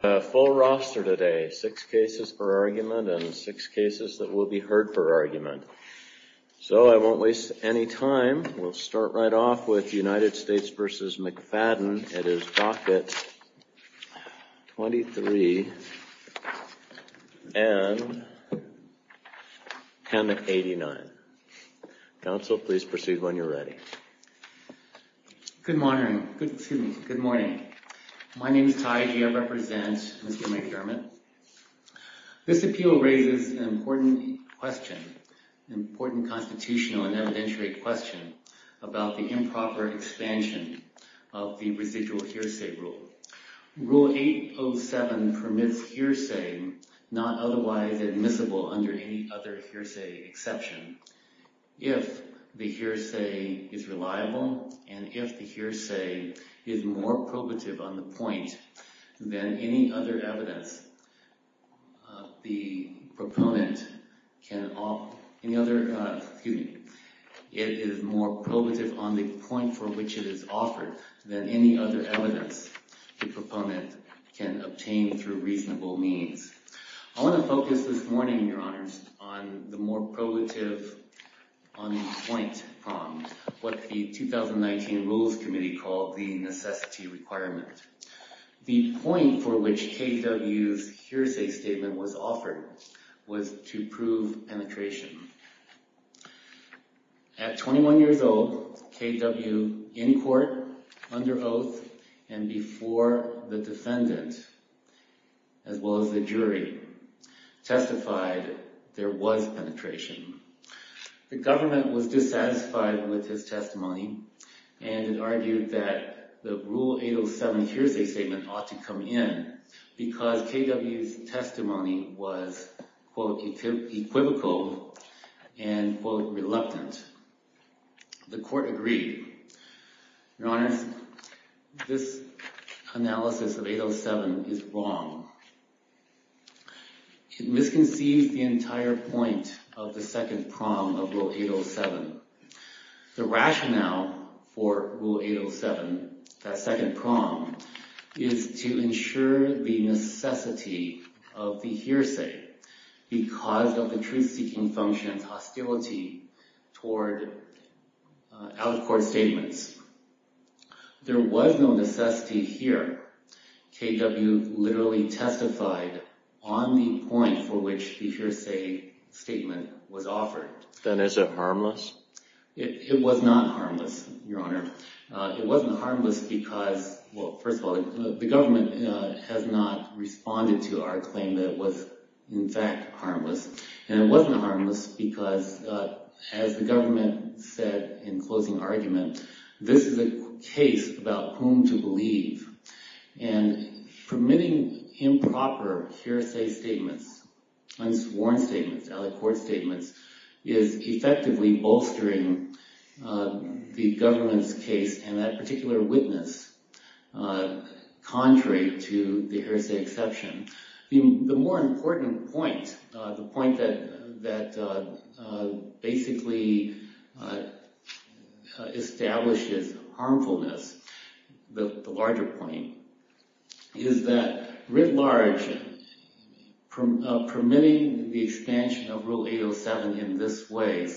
A full roster today. Six cases per argument and six cases that will be heard per argument. So I won't waste any time. We'll start right off with United States v. McFadden. It is docket 23 and 1089. Counsel, please proceed when you're ready. Good morning. My name is Taiji. I represent Mr. McDermott. This appeal raises an important question, an important constitutional and evidentiary question about the improper expansion of the residual hearsay rule. Rule 807 permits hearsay not otherwise admissible under any other hearsay exception. If the hearsay is reliable and if the hearsay is more probative on the point than any other evidence, the proponent can, excuse me, it is more probative on the point for which it is offered than any other evidence the proponent can obtain through reasonable means. I want to focus this morning, Your Honors, on the more probative on the point prompt, what the 2019 Rules Committee called the necessity requirement. The point for which KW's hearsay statement was offered was to prove penetration. At 21 years old, KW in court, under oath, and before the defendant as well as the jury testified there was penetration. The government was dissatisfied with his testimony and argued that the Rule 807 hearsay statement ought to come in because KW's testimony was, quote, equivocal and, quote, reluctant. The court agreed. Your Honors, this analysis of 807 is wrong. It misconceives the entire point of the second prong of Rule 807. The rationale for Rule 807, that second prong, is to ensure the necessity of the hearsay because of the truth-seeking function's hostility toward out-of-court statements. There was no necessity here. KW literally testified on the point for which the hearsay statement was offered. Then is it harmless? It was not harmless, Your Honor. It wasn't harmless because, well, first of all, the government has not responded to our claim that it was, in fact, harmless. And it wasn't harmless because, as the government said in closing argument, this is a case about whom to believe. And permitting improper hearsay statements, unsworn statements, out-of-court statements, is effectively bolstering the government's case and that particular witness, contrary to the hearsay exception. The more important point, the point that basically establishes harmfulness, the larger point, is that writ large, permitting the expansion of Rule 807 in this way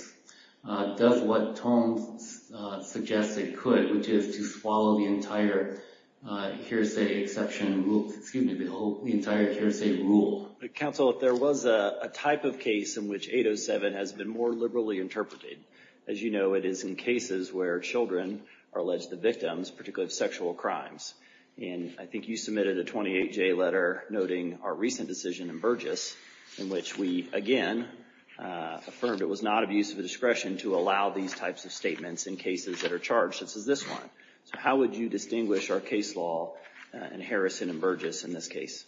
does what Tom suggested could, which is to swallow the entire hearsay rule. Counsel, if there was a type of case in which 807 has been more liberally interpreted, as you know, it is in cases where children are alleged victims, particularly of sexual crimes. And I think you submitted a 28-J letter noting our recent decision in Burgess, in which we again affirmed it was not of use of the discretion to allow these types of statements in cases that are charged, such as this one. So how would you distinguish our case law in Harrison and Burgess in this case?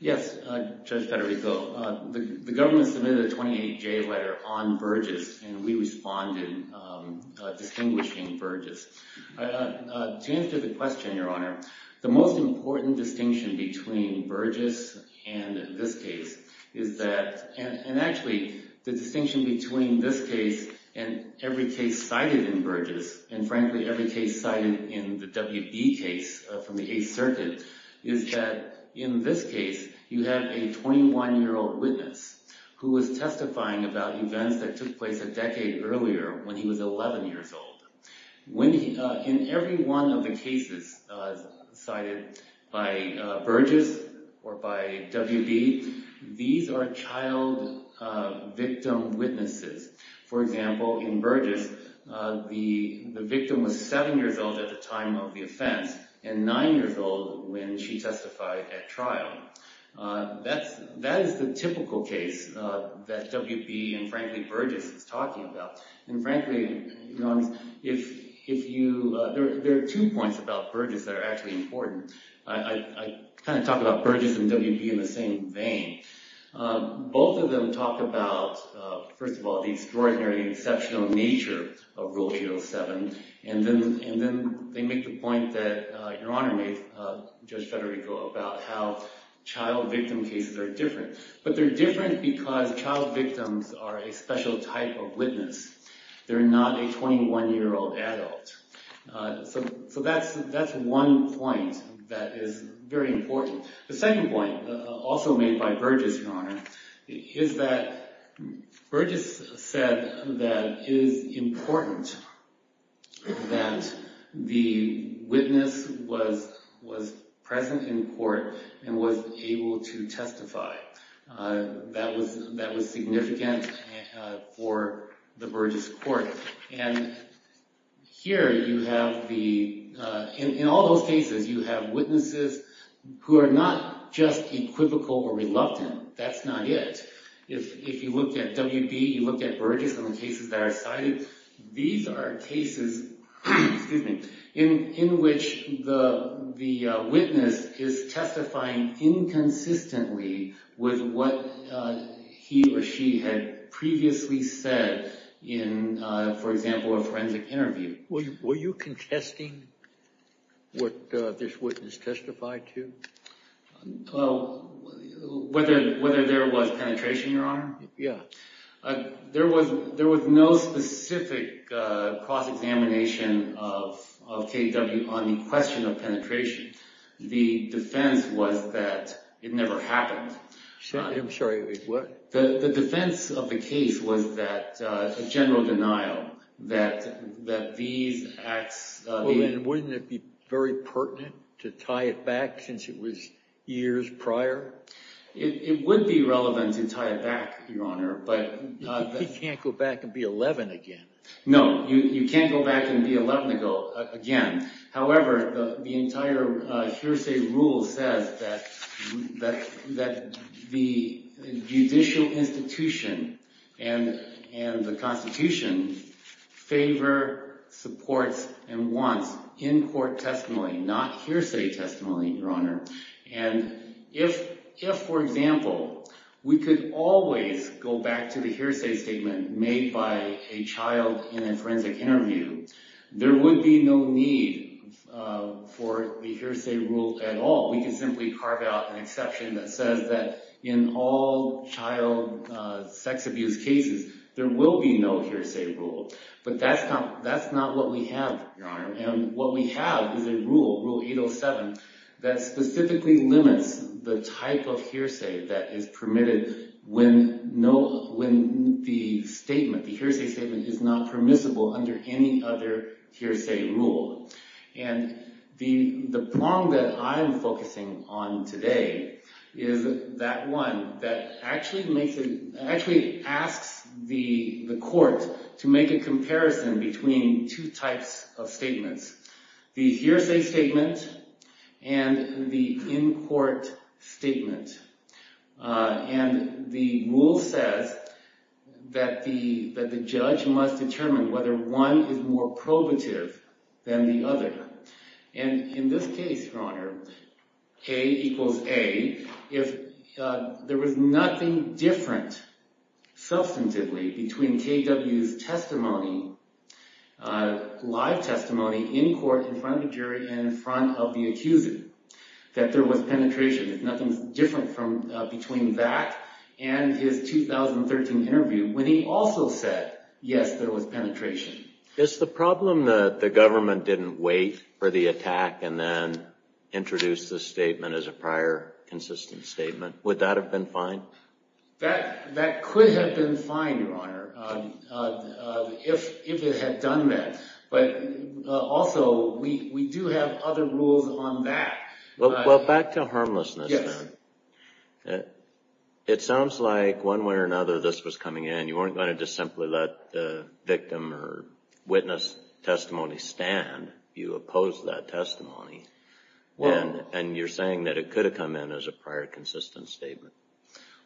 Yes, Judge Federico, the government submitted a 28-J letter on Burgess and we responded distinguishing Burgess. To answer the question, Your Honor, the most important distinction between Burgess and this case is that, and actually the distinction between this case and every case cited in Burgess, and frankly every case cited in the WB case from the Eighth Circuit, is that in this case you have a 21-year-old witness who was testifying about events that took place a 11 years old. In every one of the cases cited by Burgess or by WB, these are child victim witnesses. For example, in Burgess, the victim was 7 years old at the time of the offense, and 9 years old when she testified at trial. That is the typical case that WB and frankly Your Honor, if you, there are two points about Burgess that are actually important. I kind of talk about Burgess and WB in the same vein. Both of them talk about, first of all, the extraordinary exceptional nature of Rule 307, and then they make the point that Your Honor made, Judge Federico, about how child victim cases are different. But they're different because child victims are not a 21-year-old adult. So that's one point that is very important. The second point, also made by Burgess, Your Honor, is that Burgess said that it is important that the witness was present in court and was able to testify. That was significant for the Burgess court. And here you have the, in all those cases, you have witnesses who are not just equivocal or reluctant. That's not it. If you look at WB, you look at Burgess and the cases that are cited, these are cases in which the witness is testifying inconsistently with what he or she had previously said in, for example, a forensic interview. Were you contesting what this witness testified to? Well, whether there was penetration, Your Honor? Yeah. There was no specific cross-examination of KDW on the question of penetration. The defense was that it never happened. I'm sorry, what? The defense of the case was that a general denial that these acts... Wouldn't it be very pertinent to tie it back since it was years prior? It would be relevant to tie it back, Your Honor, but... You can't go back and be 11 again. No, you can't go back and be 11 again. However, the entire hearsay rule says that the judicial institution and the Constitution favor, supports, and wants in-court testimony, not hearsay testimony, Your Honor. And if, for example, we could always go back to the hearsay statement made by a child in a forensic interview, there would be no need for the hearsay rule at all. We can simply carve out an exception that says that in all child sex abuse cases, there will be no hearsay rule. But that's not what we have, Your Honor. And what we have is a rule, Rule 807, that specifically limits the type of hearsay that is permitted when the statement, the hearsay statement, is not permissible under any other hearsay rule. And the prong that I'm focusing on today is that one that actually asks the court to make a comparison between two types of statements, the hearsay statement and the in-court statement. And the rule says that the judge must determine whether one is more probative than the other. And in this case, Your Honor, A equals A, if there was nothing different substantively between KW's testimony live testimony in court, in front of the jury, and in front of the accuser, that there was penetration. If nothing's different from between that and his 2013 interview, when he also said, yes, there was penetration. Is the problem that the government didn't wait for the attack and then introduced the statement as a prior consistent statement, would that have been fine? That could have been fine, Your Honor, if it had done that. But also, we do have other rules on that. Well, back to harmlessness then. Yes. It sounds like one way or another this was coming in. You weren't going to just simply let the victim or witness testimony stand. You opposed that testimony. And you're saying that it could have come in as a prior consistent statement.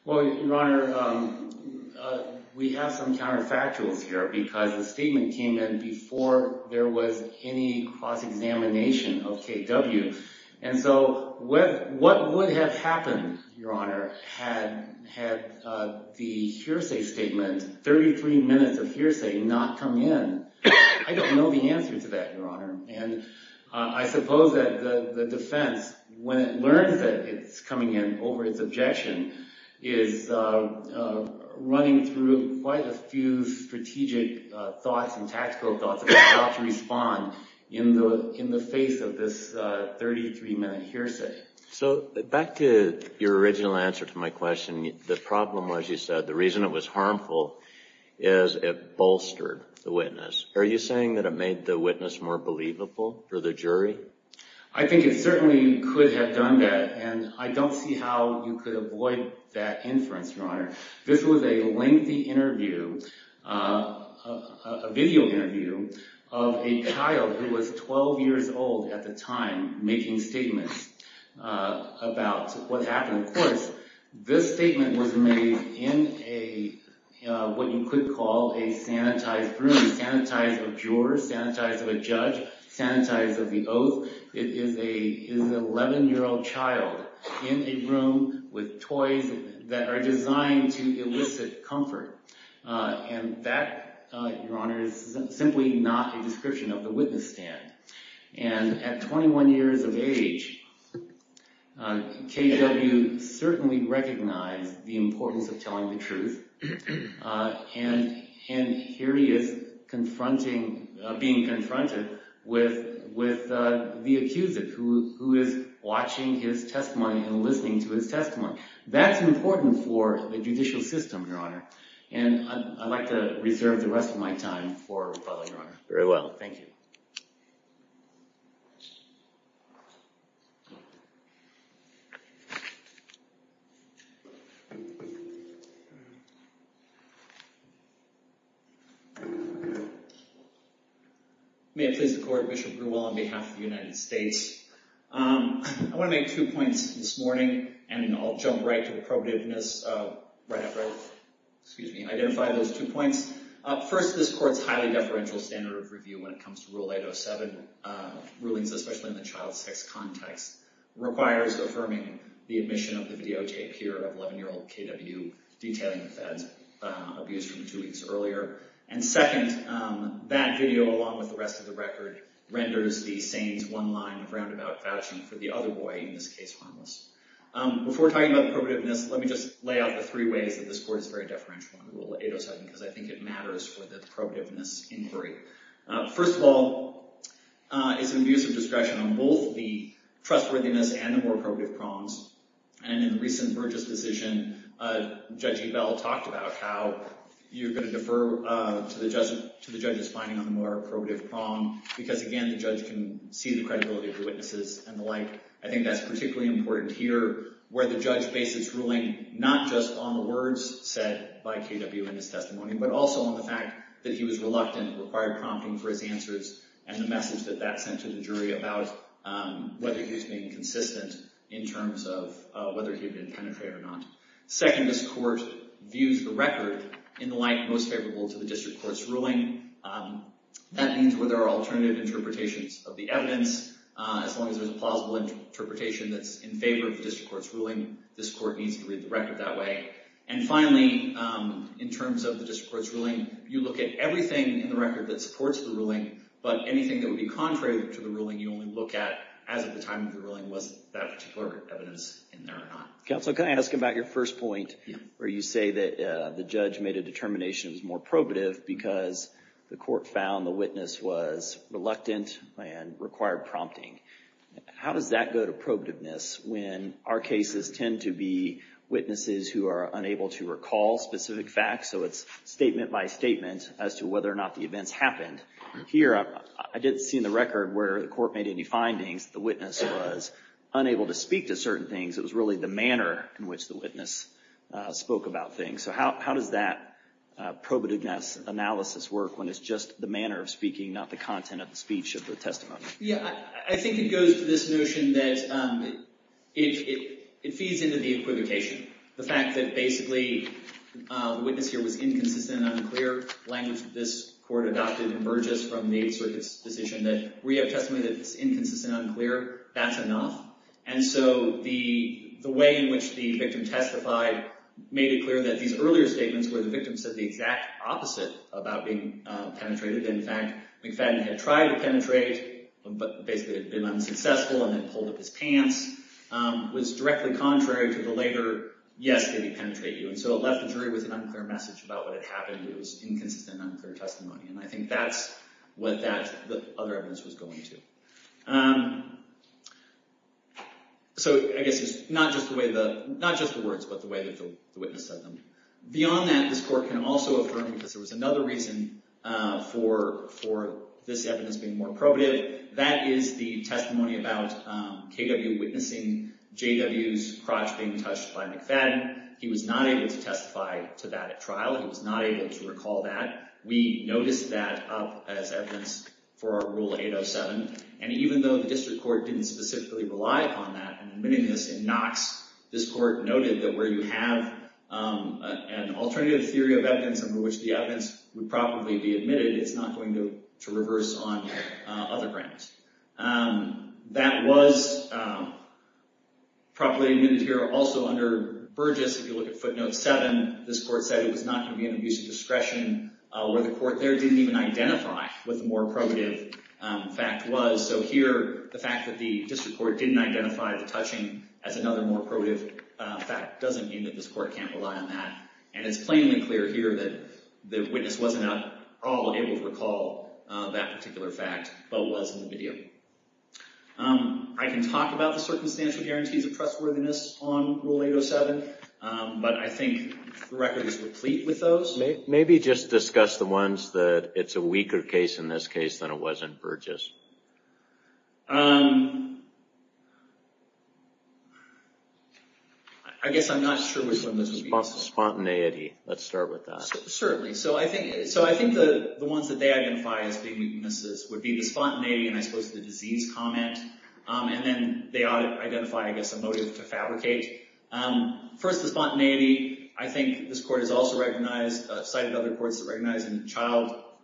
Well, Your Honor, we have some counterfactuals here, because the statement came in before there was any cross-examination of KW. And so what would have happened, Your Honor, had the hearsay statement, 33 minutes of hearsay, not come in? I don't know the answer to that, Your Honor. And I suppose that the defense, when it learns that it's coming in over its objection, is running through quite a few strategic thoughts and tactical thoughts about how to respond in the face of this 33-minute hearsay. So back to your original answer to my question, the problem, as you said, the reason it was harmful is it bolstered the witness. Are you saying that it made the witness more believable for the jury? I think it certainly could have done that. And I don't see how you could avoid that inference, Your Honor. This was a lengthy interview, a video interview, of a child who was 12 years old at the time making statements about what happened. Of course, this statement was made in what you could call a sanitized room, sanitized of jurors, sanitized of a judge, sanitized of the oath. It is an 11-year-old child in a room with toys that are designed to elicit comfort. And that, Your Honor, is simply not a description of the witness stand. And at 21 years of age, KW certainly recognized the confronting, being confronted with the accused, who is watching his testimony and listening to his testimony. That's important for the judicial system, Your Honor. And I'd like to reserve the May it please the Court, Bishop Grewell on behalf of the United States. I want to make two points this morning, and I'll jump right to appropriateness right after I identify those two points. First, this Court's highly deferential standard of review when it comes to Rule 807 rulings, especially in the child sex context, requires affirming the admission of the video tape here of 11-year-old KW detailing the fed's abuse from two weeks earlier. And second, that video, along with the rest of the record, renders the Sains one line of roundabout vouching for the other boy, in this case, harmless. Before talking about appropriateness, let me just lay out the three ways that this Court is very deferential under Rule 807, because I think it matters for the appropriateness inquiry. First of all, it's an abuse of discretion on both the trustworthiness and the more appropriative prongs. And in the recent Burgess decision, Judge Ebell talked about how you're going to defer to the judge's finding on the more appropriative prong, because again, the judge can see the credibility of the witnesses and the like. I think that's particularly important here, where the judge bases his ruling not just on the words said by KW in his testimony, but also on the fact that he was reluctant, required prompting for his answers, and the message that that sent to the jury about whether he was being consistent in terms of whether he had been a penetrator or not. Second, this Court views the record in the light most favorable to the District Court's ruling. That means where there are alternative interpretations of the evidence, as long as there's a plausible interpretation that's in favor of the District Court's ruling, this Court needs to read the record that way. And finally, in terms of the District Court's ruling, you look at everything in the record that supports the ruling, but anything that would be contrary to the ruling, you only look at as of the time of the ruling was that particular evidence in there or not. Counsel, can I ask about your first point, where you say that the judge made a determination that was more probative because the Court found the witness was reluctant and required prompting. How does that go to probativeness when our cases tend to be witnesses who are unable to recall specific facts, so it's statement by statement as to whether or not the events happened. Here, I didn't see in the record where the Court made any findings that the witness was unable to speak to certain things. It was really the manner in which the witness spoke about things. So how does that probativeness analysis work when it's just the manner of speaking, not the content of the speech of the testimony? Yeah, I think it goes to this notion that it feeds into the justification. The fact that basically the witness here was inconsistent and unclear, the language that this Court adopted emerges from the Circuit's decision that we have testimony that's inconsistent and unclear, that's enough. And so the way in which the victim testified made it clear that these earlier statements where the victim said the exact opposite about being penetrated, in fact, McFadden had tried to penetrate, but basically had been unsuccessful and had pulled up his pants, was directly contrary to the later, yes, did he penetrate you? And so it left the jury with an unclear message about what had happened. It was inconsistent and unclear testimony, and I think that's what the other evidence was going to. So I guess it's not just the words, but the way that the witness said them. Beyond that, this Court can also affirm, because there was another reason for this evidence being more probative, that is the testimony about K.W. witnessing J.W.'s crotch being touched by McFadden. He was not able to testify to that at trial. He was not able to recall that. We noticed that up as evidence for our Rule 807, and even though the District Court didn't specifically rely upon that in admitting this in Knox, this Court noted that where you have an alternative theory of evidence under which the evidence would probably be admitted, it's not going to reverse on other grounds. That was properly admitted here. Also under Burgess, if you look at Footnote 7, this Court said it was not going to be an abuse of discretion where the Court there didn't even identify what the more probative fact was. So here, the fact that the District Court didn't identify the touching as another more probative fact doesn't mean that this Court can't rely on that, and it's plainly clear here that the witness wasn't at all able to recall that particular fact, but was in the video. I can talk about the circumstantial guarantees of trustworthiness on Rule 807, but I think the record is complete with those. Maybe just discuss the ones that it's a weaker case in this case than it was in Burgess. I guess I'm not sure which one this would be. Spontaneity. Let's start with that. Certainly. So I think the ones that they identify as being weaknesses would be the spontaneity and I suppose the disease comment, and then they identify, I guess, a motive to fabricate. First, the spontaneity. I think this Court has also recognized, cited other Courts that recognize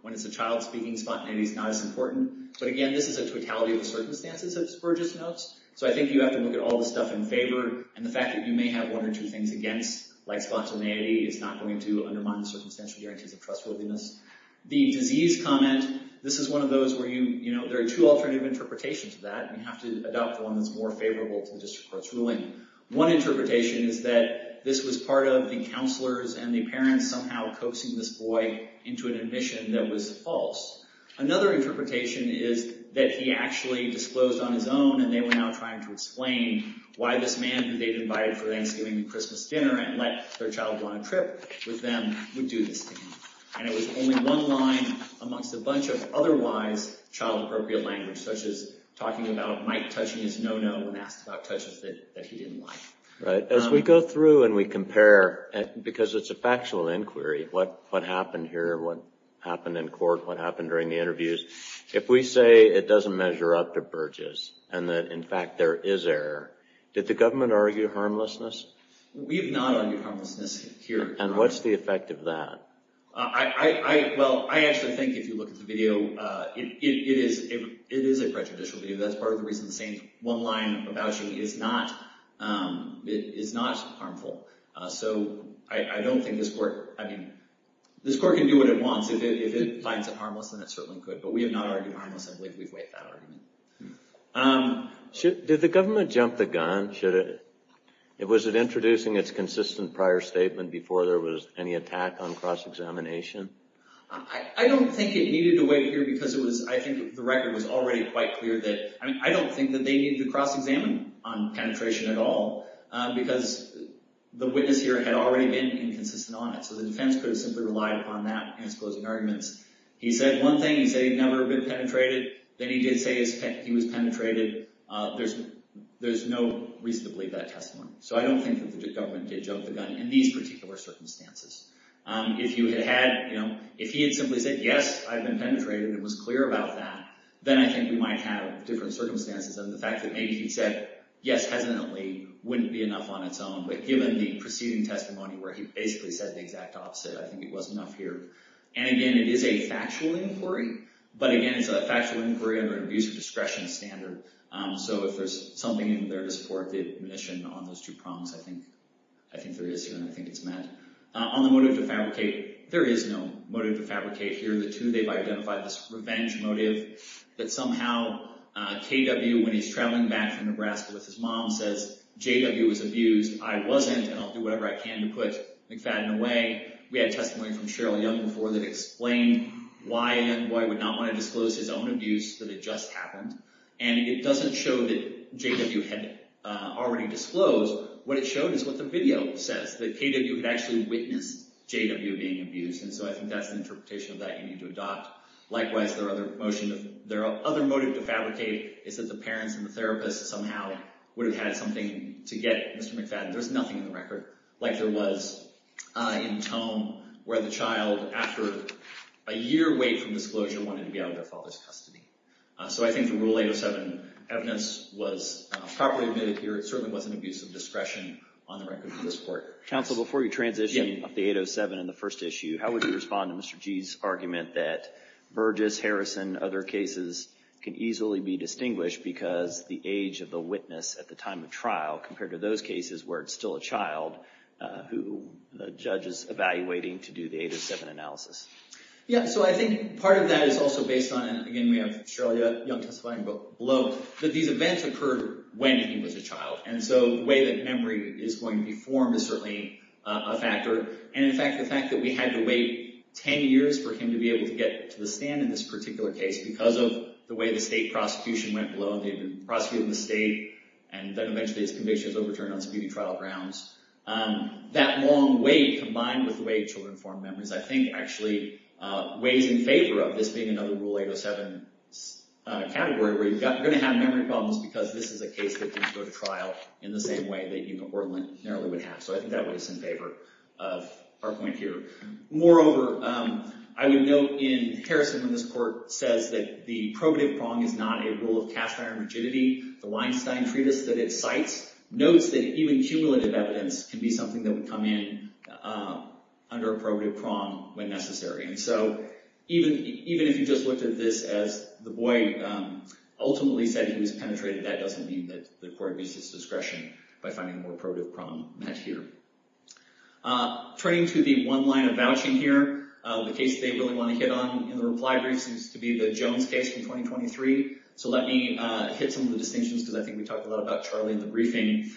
when it's a child speaking, spontaneity is not as important. But again, this is a totality of the circumstances, as Burgess notes. So I think you have to look at all the stuff in favor, and the fact that you may have one or two things against, like spontaneity, is not going to undermine the circumstantial guarantees of trustworthiness. The disease comment, this is one of those where there are two alternative interpretations of that, and you have to adopt the one that's more favorable to the District Court's ruling. One interpretation is that this was part of the counselors and the parents somehow coaxing this boy into an admission that was false. Another interpretation is that he actually disclosed on his own, and they were now trying to explain why this man that they'd invited for Thanksgiving and Christmas dinner and let their child go on a trip with them would do this to him. And it was only one line amongst a bunch of otherwise child-appropriate language, such as talking about Mike touching his no-no and asked about touches that he didn't like. Right. As we go through and we compare, because it's a factual inquiry, what happened here, what happened in court, what happened during the interviews, if we say it doesn't measure up to Burgess, and that, in fact, there is error, did the government argue harmlessness? We have not argued harmlessness here. And what's the effect of that? Well, I actually think if you look at the video, it is a prejudicial video. That's part of the reason the same one line about you is not harmful. So I don't think this court, I mean, this court can do what it wants. If it finds it harmless, then it certainly could. But we have not argued harmless. I believe we've weighed that argument. Did the government jump the gun? Was it introducing its consistent prior statement before there was any attack on cross-examination? I don't think it needed to weigh here because it was, I think the record was already quite clear that, I mean, I don't think that they needed to cross-examine on penetration at all because the witness here had already been inconsistent on it. So the defense could have simply relied upon that in its closing arguments. He said one thing, he said he'd never been penetrated. Then he did say he was penetrated. There's no reason to believe that testimony. So I don't think that the government did jump the gun in these particular circumstances. If you had had, you know, if he had simply said, yes, I've been penetrated and was clear about that, then I think we might have different circumstances. And the fact that maybe he'd said, yes, hesitantly, wouldn't be enough on its own. But given the preceding testimony where he basically said the exact opposite, I think it was enough here. And again, it is a factual inquiry. But again, it's a factual inquiry under an abuser discretion standard. So if there's something in there to support the admission on those two prongs, I think there is here and I think it's met. On the motive to fabricate, there is no motive to fabricate here. The two they've identified, this revenge motive that somehow KW, when he's traveling back from Nebraska with his mom, says JW was abused. I wasn't and I'll do whatever I can to put McFadden away. We had testimony from Cheryl Young before that explained why a young boy would not want to disclose his own abuse, that it just happened. And it doesn't show that JW had already disclosed. What it showed is what the video says, that KW had actually witnessed JW being abused. And so I think that's the likewise, their other motion. Their other motive to fabricate is that the parents and the therapists somehow would have had something to get Mr. McFadden. There's nothing in the record like there was in Tome where the child, after a year wait from disclosure, wanted to be out of their father's custody. So I think the Rule 807 evidence was properly admitted here. It certainly wasn't abuse of discretion on the record for this court. Counsel, before you transition up to 807 in the first issue, how would you respond to Mr. G's argument that Burgess, Harrison, other cases can easily be distinguished because the age of the witness at the time of trial compared to those cases where it's still a child who the judge is evaluating to do the 807 analysis? Yeah, so I think part of that is also based on, again, we have Cheryl Young testifying below, that these events occurred when he was a child. And so the way that memory is going to be formed is certainly a factor. And in fact, the fact that we had to wait 10 years for him to be able to get to the stand in this particular case because of the way the state prosecution went below, they've been prosecuting the state, and then eventually his conviction is overturned on speedy trial grounds. That long wait combined with the way children form memories, I think actually weighs in favor of this being another Rule 807 category where you're going to have memory problems because this is a case that needs to go to trial in the same way that you're going to have memory problems. So I think that weighs in favor of our point here. Moreover, I would note in Harrison when this court says that the probative prong is not a rule of cash fire and rigidity, the Weinstein treatise that it cites notes that even cumulative evidence can be something that would come in under a probative prong when necessary. And so even if you just looked at this as the boy ultimately said he was penetrated, that doesn't mean that the court abuses discretion by finding more probative prong met here. Turning to the one line of vouching here, the case they really want to hit on in the reply briefs is to be the Jones case from 2023. So let me hit some of the distinctions because I think we talked a lot about Charlie in the briefing.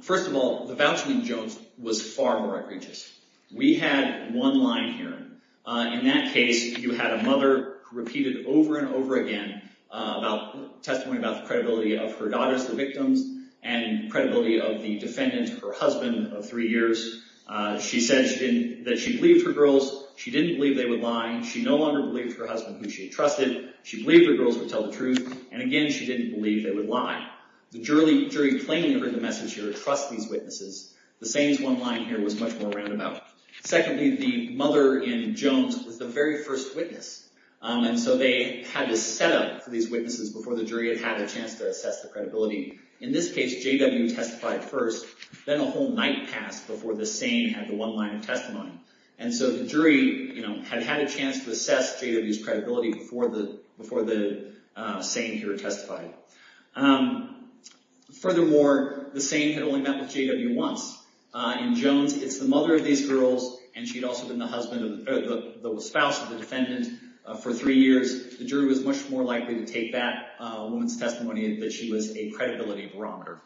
First of all, the vouching in Jones was far more egregious. We had one line here. In that case, you had a mother who repeated over and over again about testimony about the credibility of her daughters, the victims, and credibility of the defendant, her husband, of three years. She said that she believed her girls. She didn't believe they would lie. She no longer believed her husband, who she trusted. She believed her girls would tell the truth. And again, she didn't believe they would lie. The jury plainly heard the message here, trust these witnesses. The same one line here was much more roundabout. Secondly, the mother in Jones was the very first witness. And so they had to set up for these witnesses before the jury had had a chance to assess the credibility. In this case, J.W. testified first. Then a whole night passed before the same had the one line of testimony. And so the jury had had a chance to assess J.W.'s credibility before the same here testified. Furthermore, the same had only met with J.W. once. In Jones, it's the mother of these girls, and she had also been the spouse of the defendant for three years. The jury was much more likely to take back a woman's testimony that she was a credibility barometer.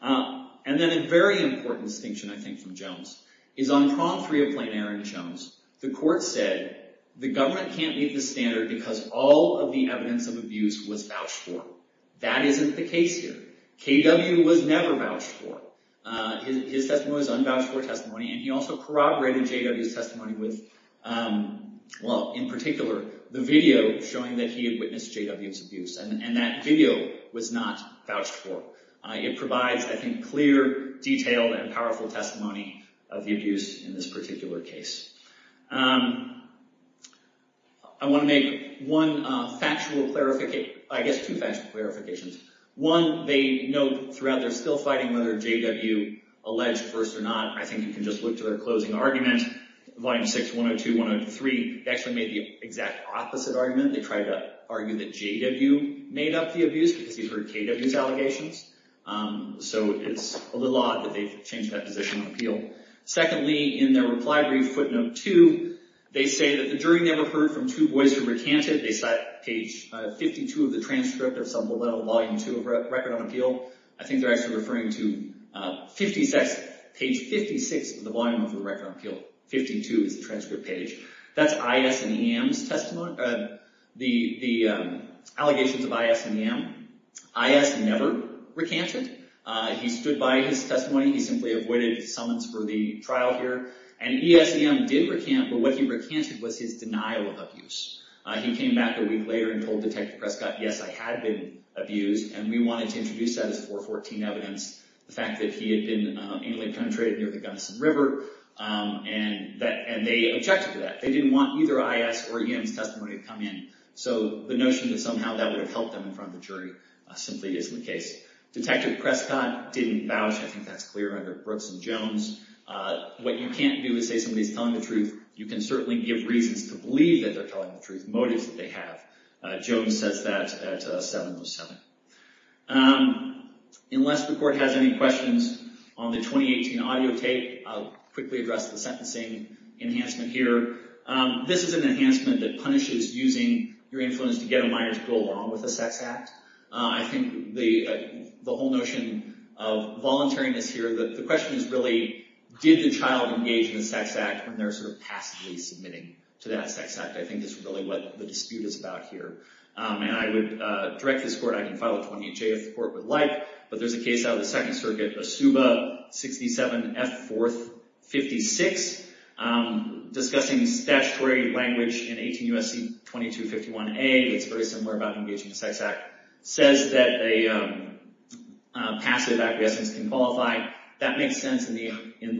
And then a very important distinction, I think, from Jones is on Prong 3 of Plain Air in Jones, the court said, the government can't meet the standard because all of the evidence of abuse was vouched for. That isn't the case here. K.W. was never vouched for. His testimony was unvouched for testimony, and he also corroborated J.W.'s testimony with, well, in particular, the video showing that he had witnessed J.W.'s abuse. And that video was not vouched for. It provides, I think, clear, detailed, and powerful testimony of the abuse in this particular case. I want to make one factual, I guess two factual clarifications. One, they note throughout, they're still fighting whether J.W. alleged first or not. I think you can just look to their closing argument, Volume 6, 102, 103. They actually made the exact opposite argument. They tried to argue that J.W. made up the abuse because he heard K.W.'s allegations. So, it's a little odd that they've changed that position on appeal. Secondly, in their reply brief, Footnote 2, they say that during they were heard from two boys who recanted, they cite page 52 of the transcript of some below Volume 2 of Record on Appeal. I think they're actually referring to page 56 of the volume of the Record on Appeal, 52 is the transcript page. That's I.S. and E.M.'s testimony, the allegations of I.S. and E.M. I.S. never recanted. He stood by his testimony. He simply avoided summons for the trial here. And E.S. and E.M. did recant, but what he recanted was his denial of abuse. He came back a week later and told Detective Prescott, yes, I had been abused, and we wanted to introduce that as 414 evidence, the fact that he had been anally penetrated near the Gunnison River, and they objected to that. They didn't want either I.S. or E.M.'s testimony to come in. So the notion that somehow that would have helped them in front of the jury simply isn't the case. Detective Prescott didn't vouch. I think that's clear under Brooks and Jones. What you can't do is say somebody's telling the truth. You can certainly give reasons to believe that they're telling the truth, motives that they have. Jones says that at 707. Unless the Court has any questions on the 2018 audio tape, I'll quickly address the sentencing enhancement here. This is an enhancement that punishes using your influence to get a minor to go along with a sex act. I think the whole notion of voluntariness here, the question is really, did the child engage in a sex act when they're sort of passively submitting to that sex act? I think that's really what the dispute is about here. And I would direct this Court, I can file 28J if the Court would like, but there's a case out of the Second Circuit, ASUBA 67F456, discussing statutory language in 18 U.S.C. 2251A that's very similar about engaging in a sex act, says that a passive acquiescence can qualify. That makes sense in the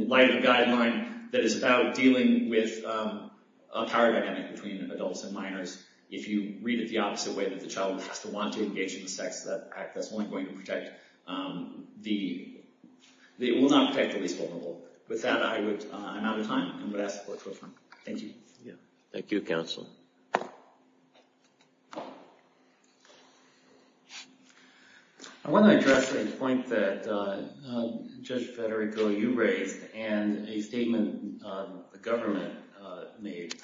light of a guideline that is about dealing with a power dynamic between adults and minors. If you read it the opposite way, that the child has to want to engage in a sex act, that's only going to protect, it will not protect the least vulnerable. With that, I'm out of time. I'm going to ask the Court to adjourn. Thank you. Thank you, counsel. I want to address a point that Judge Federico, you raised, and a statement the government made.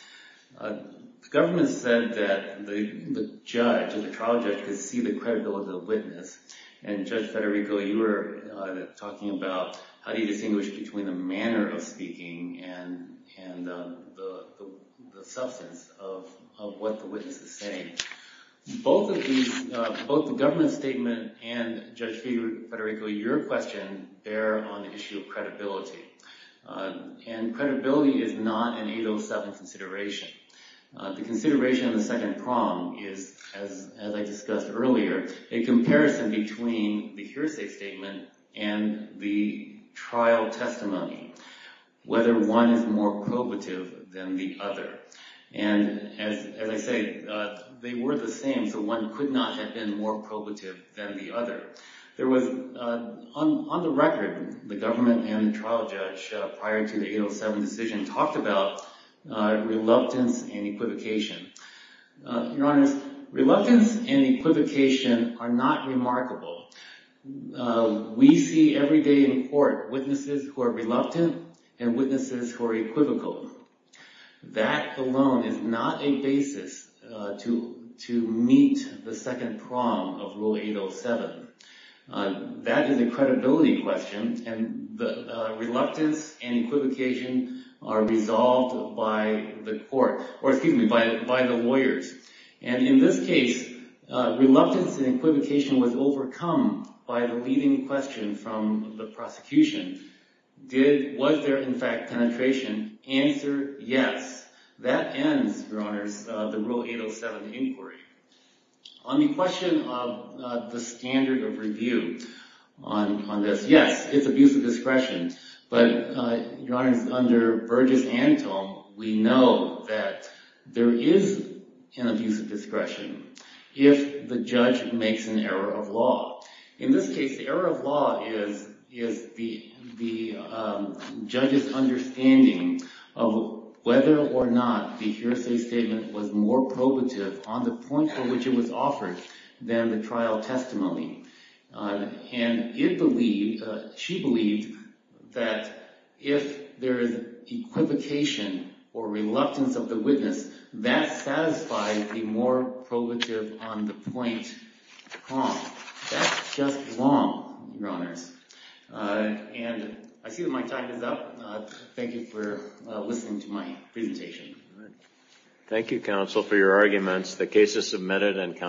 The government said that the judge, the trial judge, could see the credibility of the witness, and Judge Federico, you were talking about how do you distinguish between the manner of speaking and the substance of what the witness is saying. Both of these, both the government statement and Judge Federico, your question bear on the issue of credibility. And credibility is not an 807 consideration. The consideration of the second prong is, as I discussed earlier, a comparison between the hearsay statement and the trial testimony, whether one is more probative than the other. And as I say, they were the same, so one could not have been more probative than the other. There was, on the record, the government and the trial judge, prior to the reluctance and equivocation. Your Honor, reluctance and equivocation are not remarkable. We see every day in court witnesses who are reluctant and witnesses who are equivocal. That alone is not a basis to meet the second prong of Rule 807. That is a credibility question, and the reluctance and equivocation are resolved by the court, or excuse me, by the lawyers. And in this case, reluctance and equivocation was overcome by the leading question from the prosecution. Was there, in fact, penetration? Answer, yes. That ends, Your Honors, the Rule 807 inquiry. On the question of the standard of review on this, yes, it's abusive discretion. But, Your Honors, under Burgess and Tome, we know that there is an abusive discretion if the judge makes an error of law. In this case, the error of law is the judge's understanding of whether or not the hearsay statement was more probative on the point for which it was offered than the trial testimony. And it believed, she believed, that if there is equivocation or reluctance of the witness, that satisfies the more probative on the point prong. That's just Your Honors. And I see that my time is up. Thank you for listening to my presentation. Thank you, counsel, for your arguments. The case is submitted and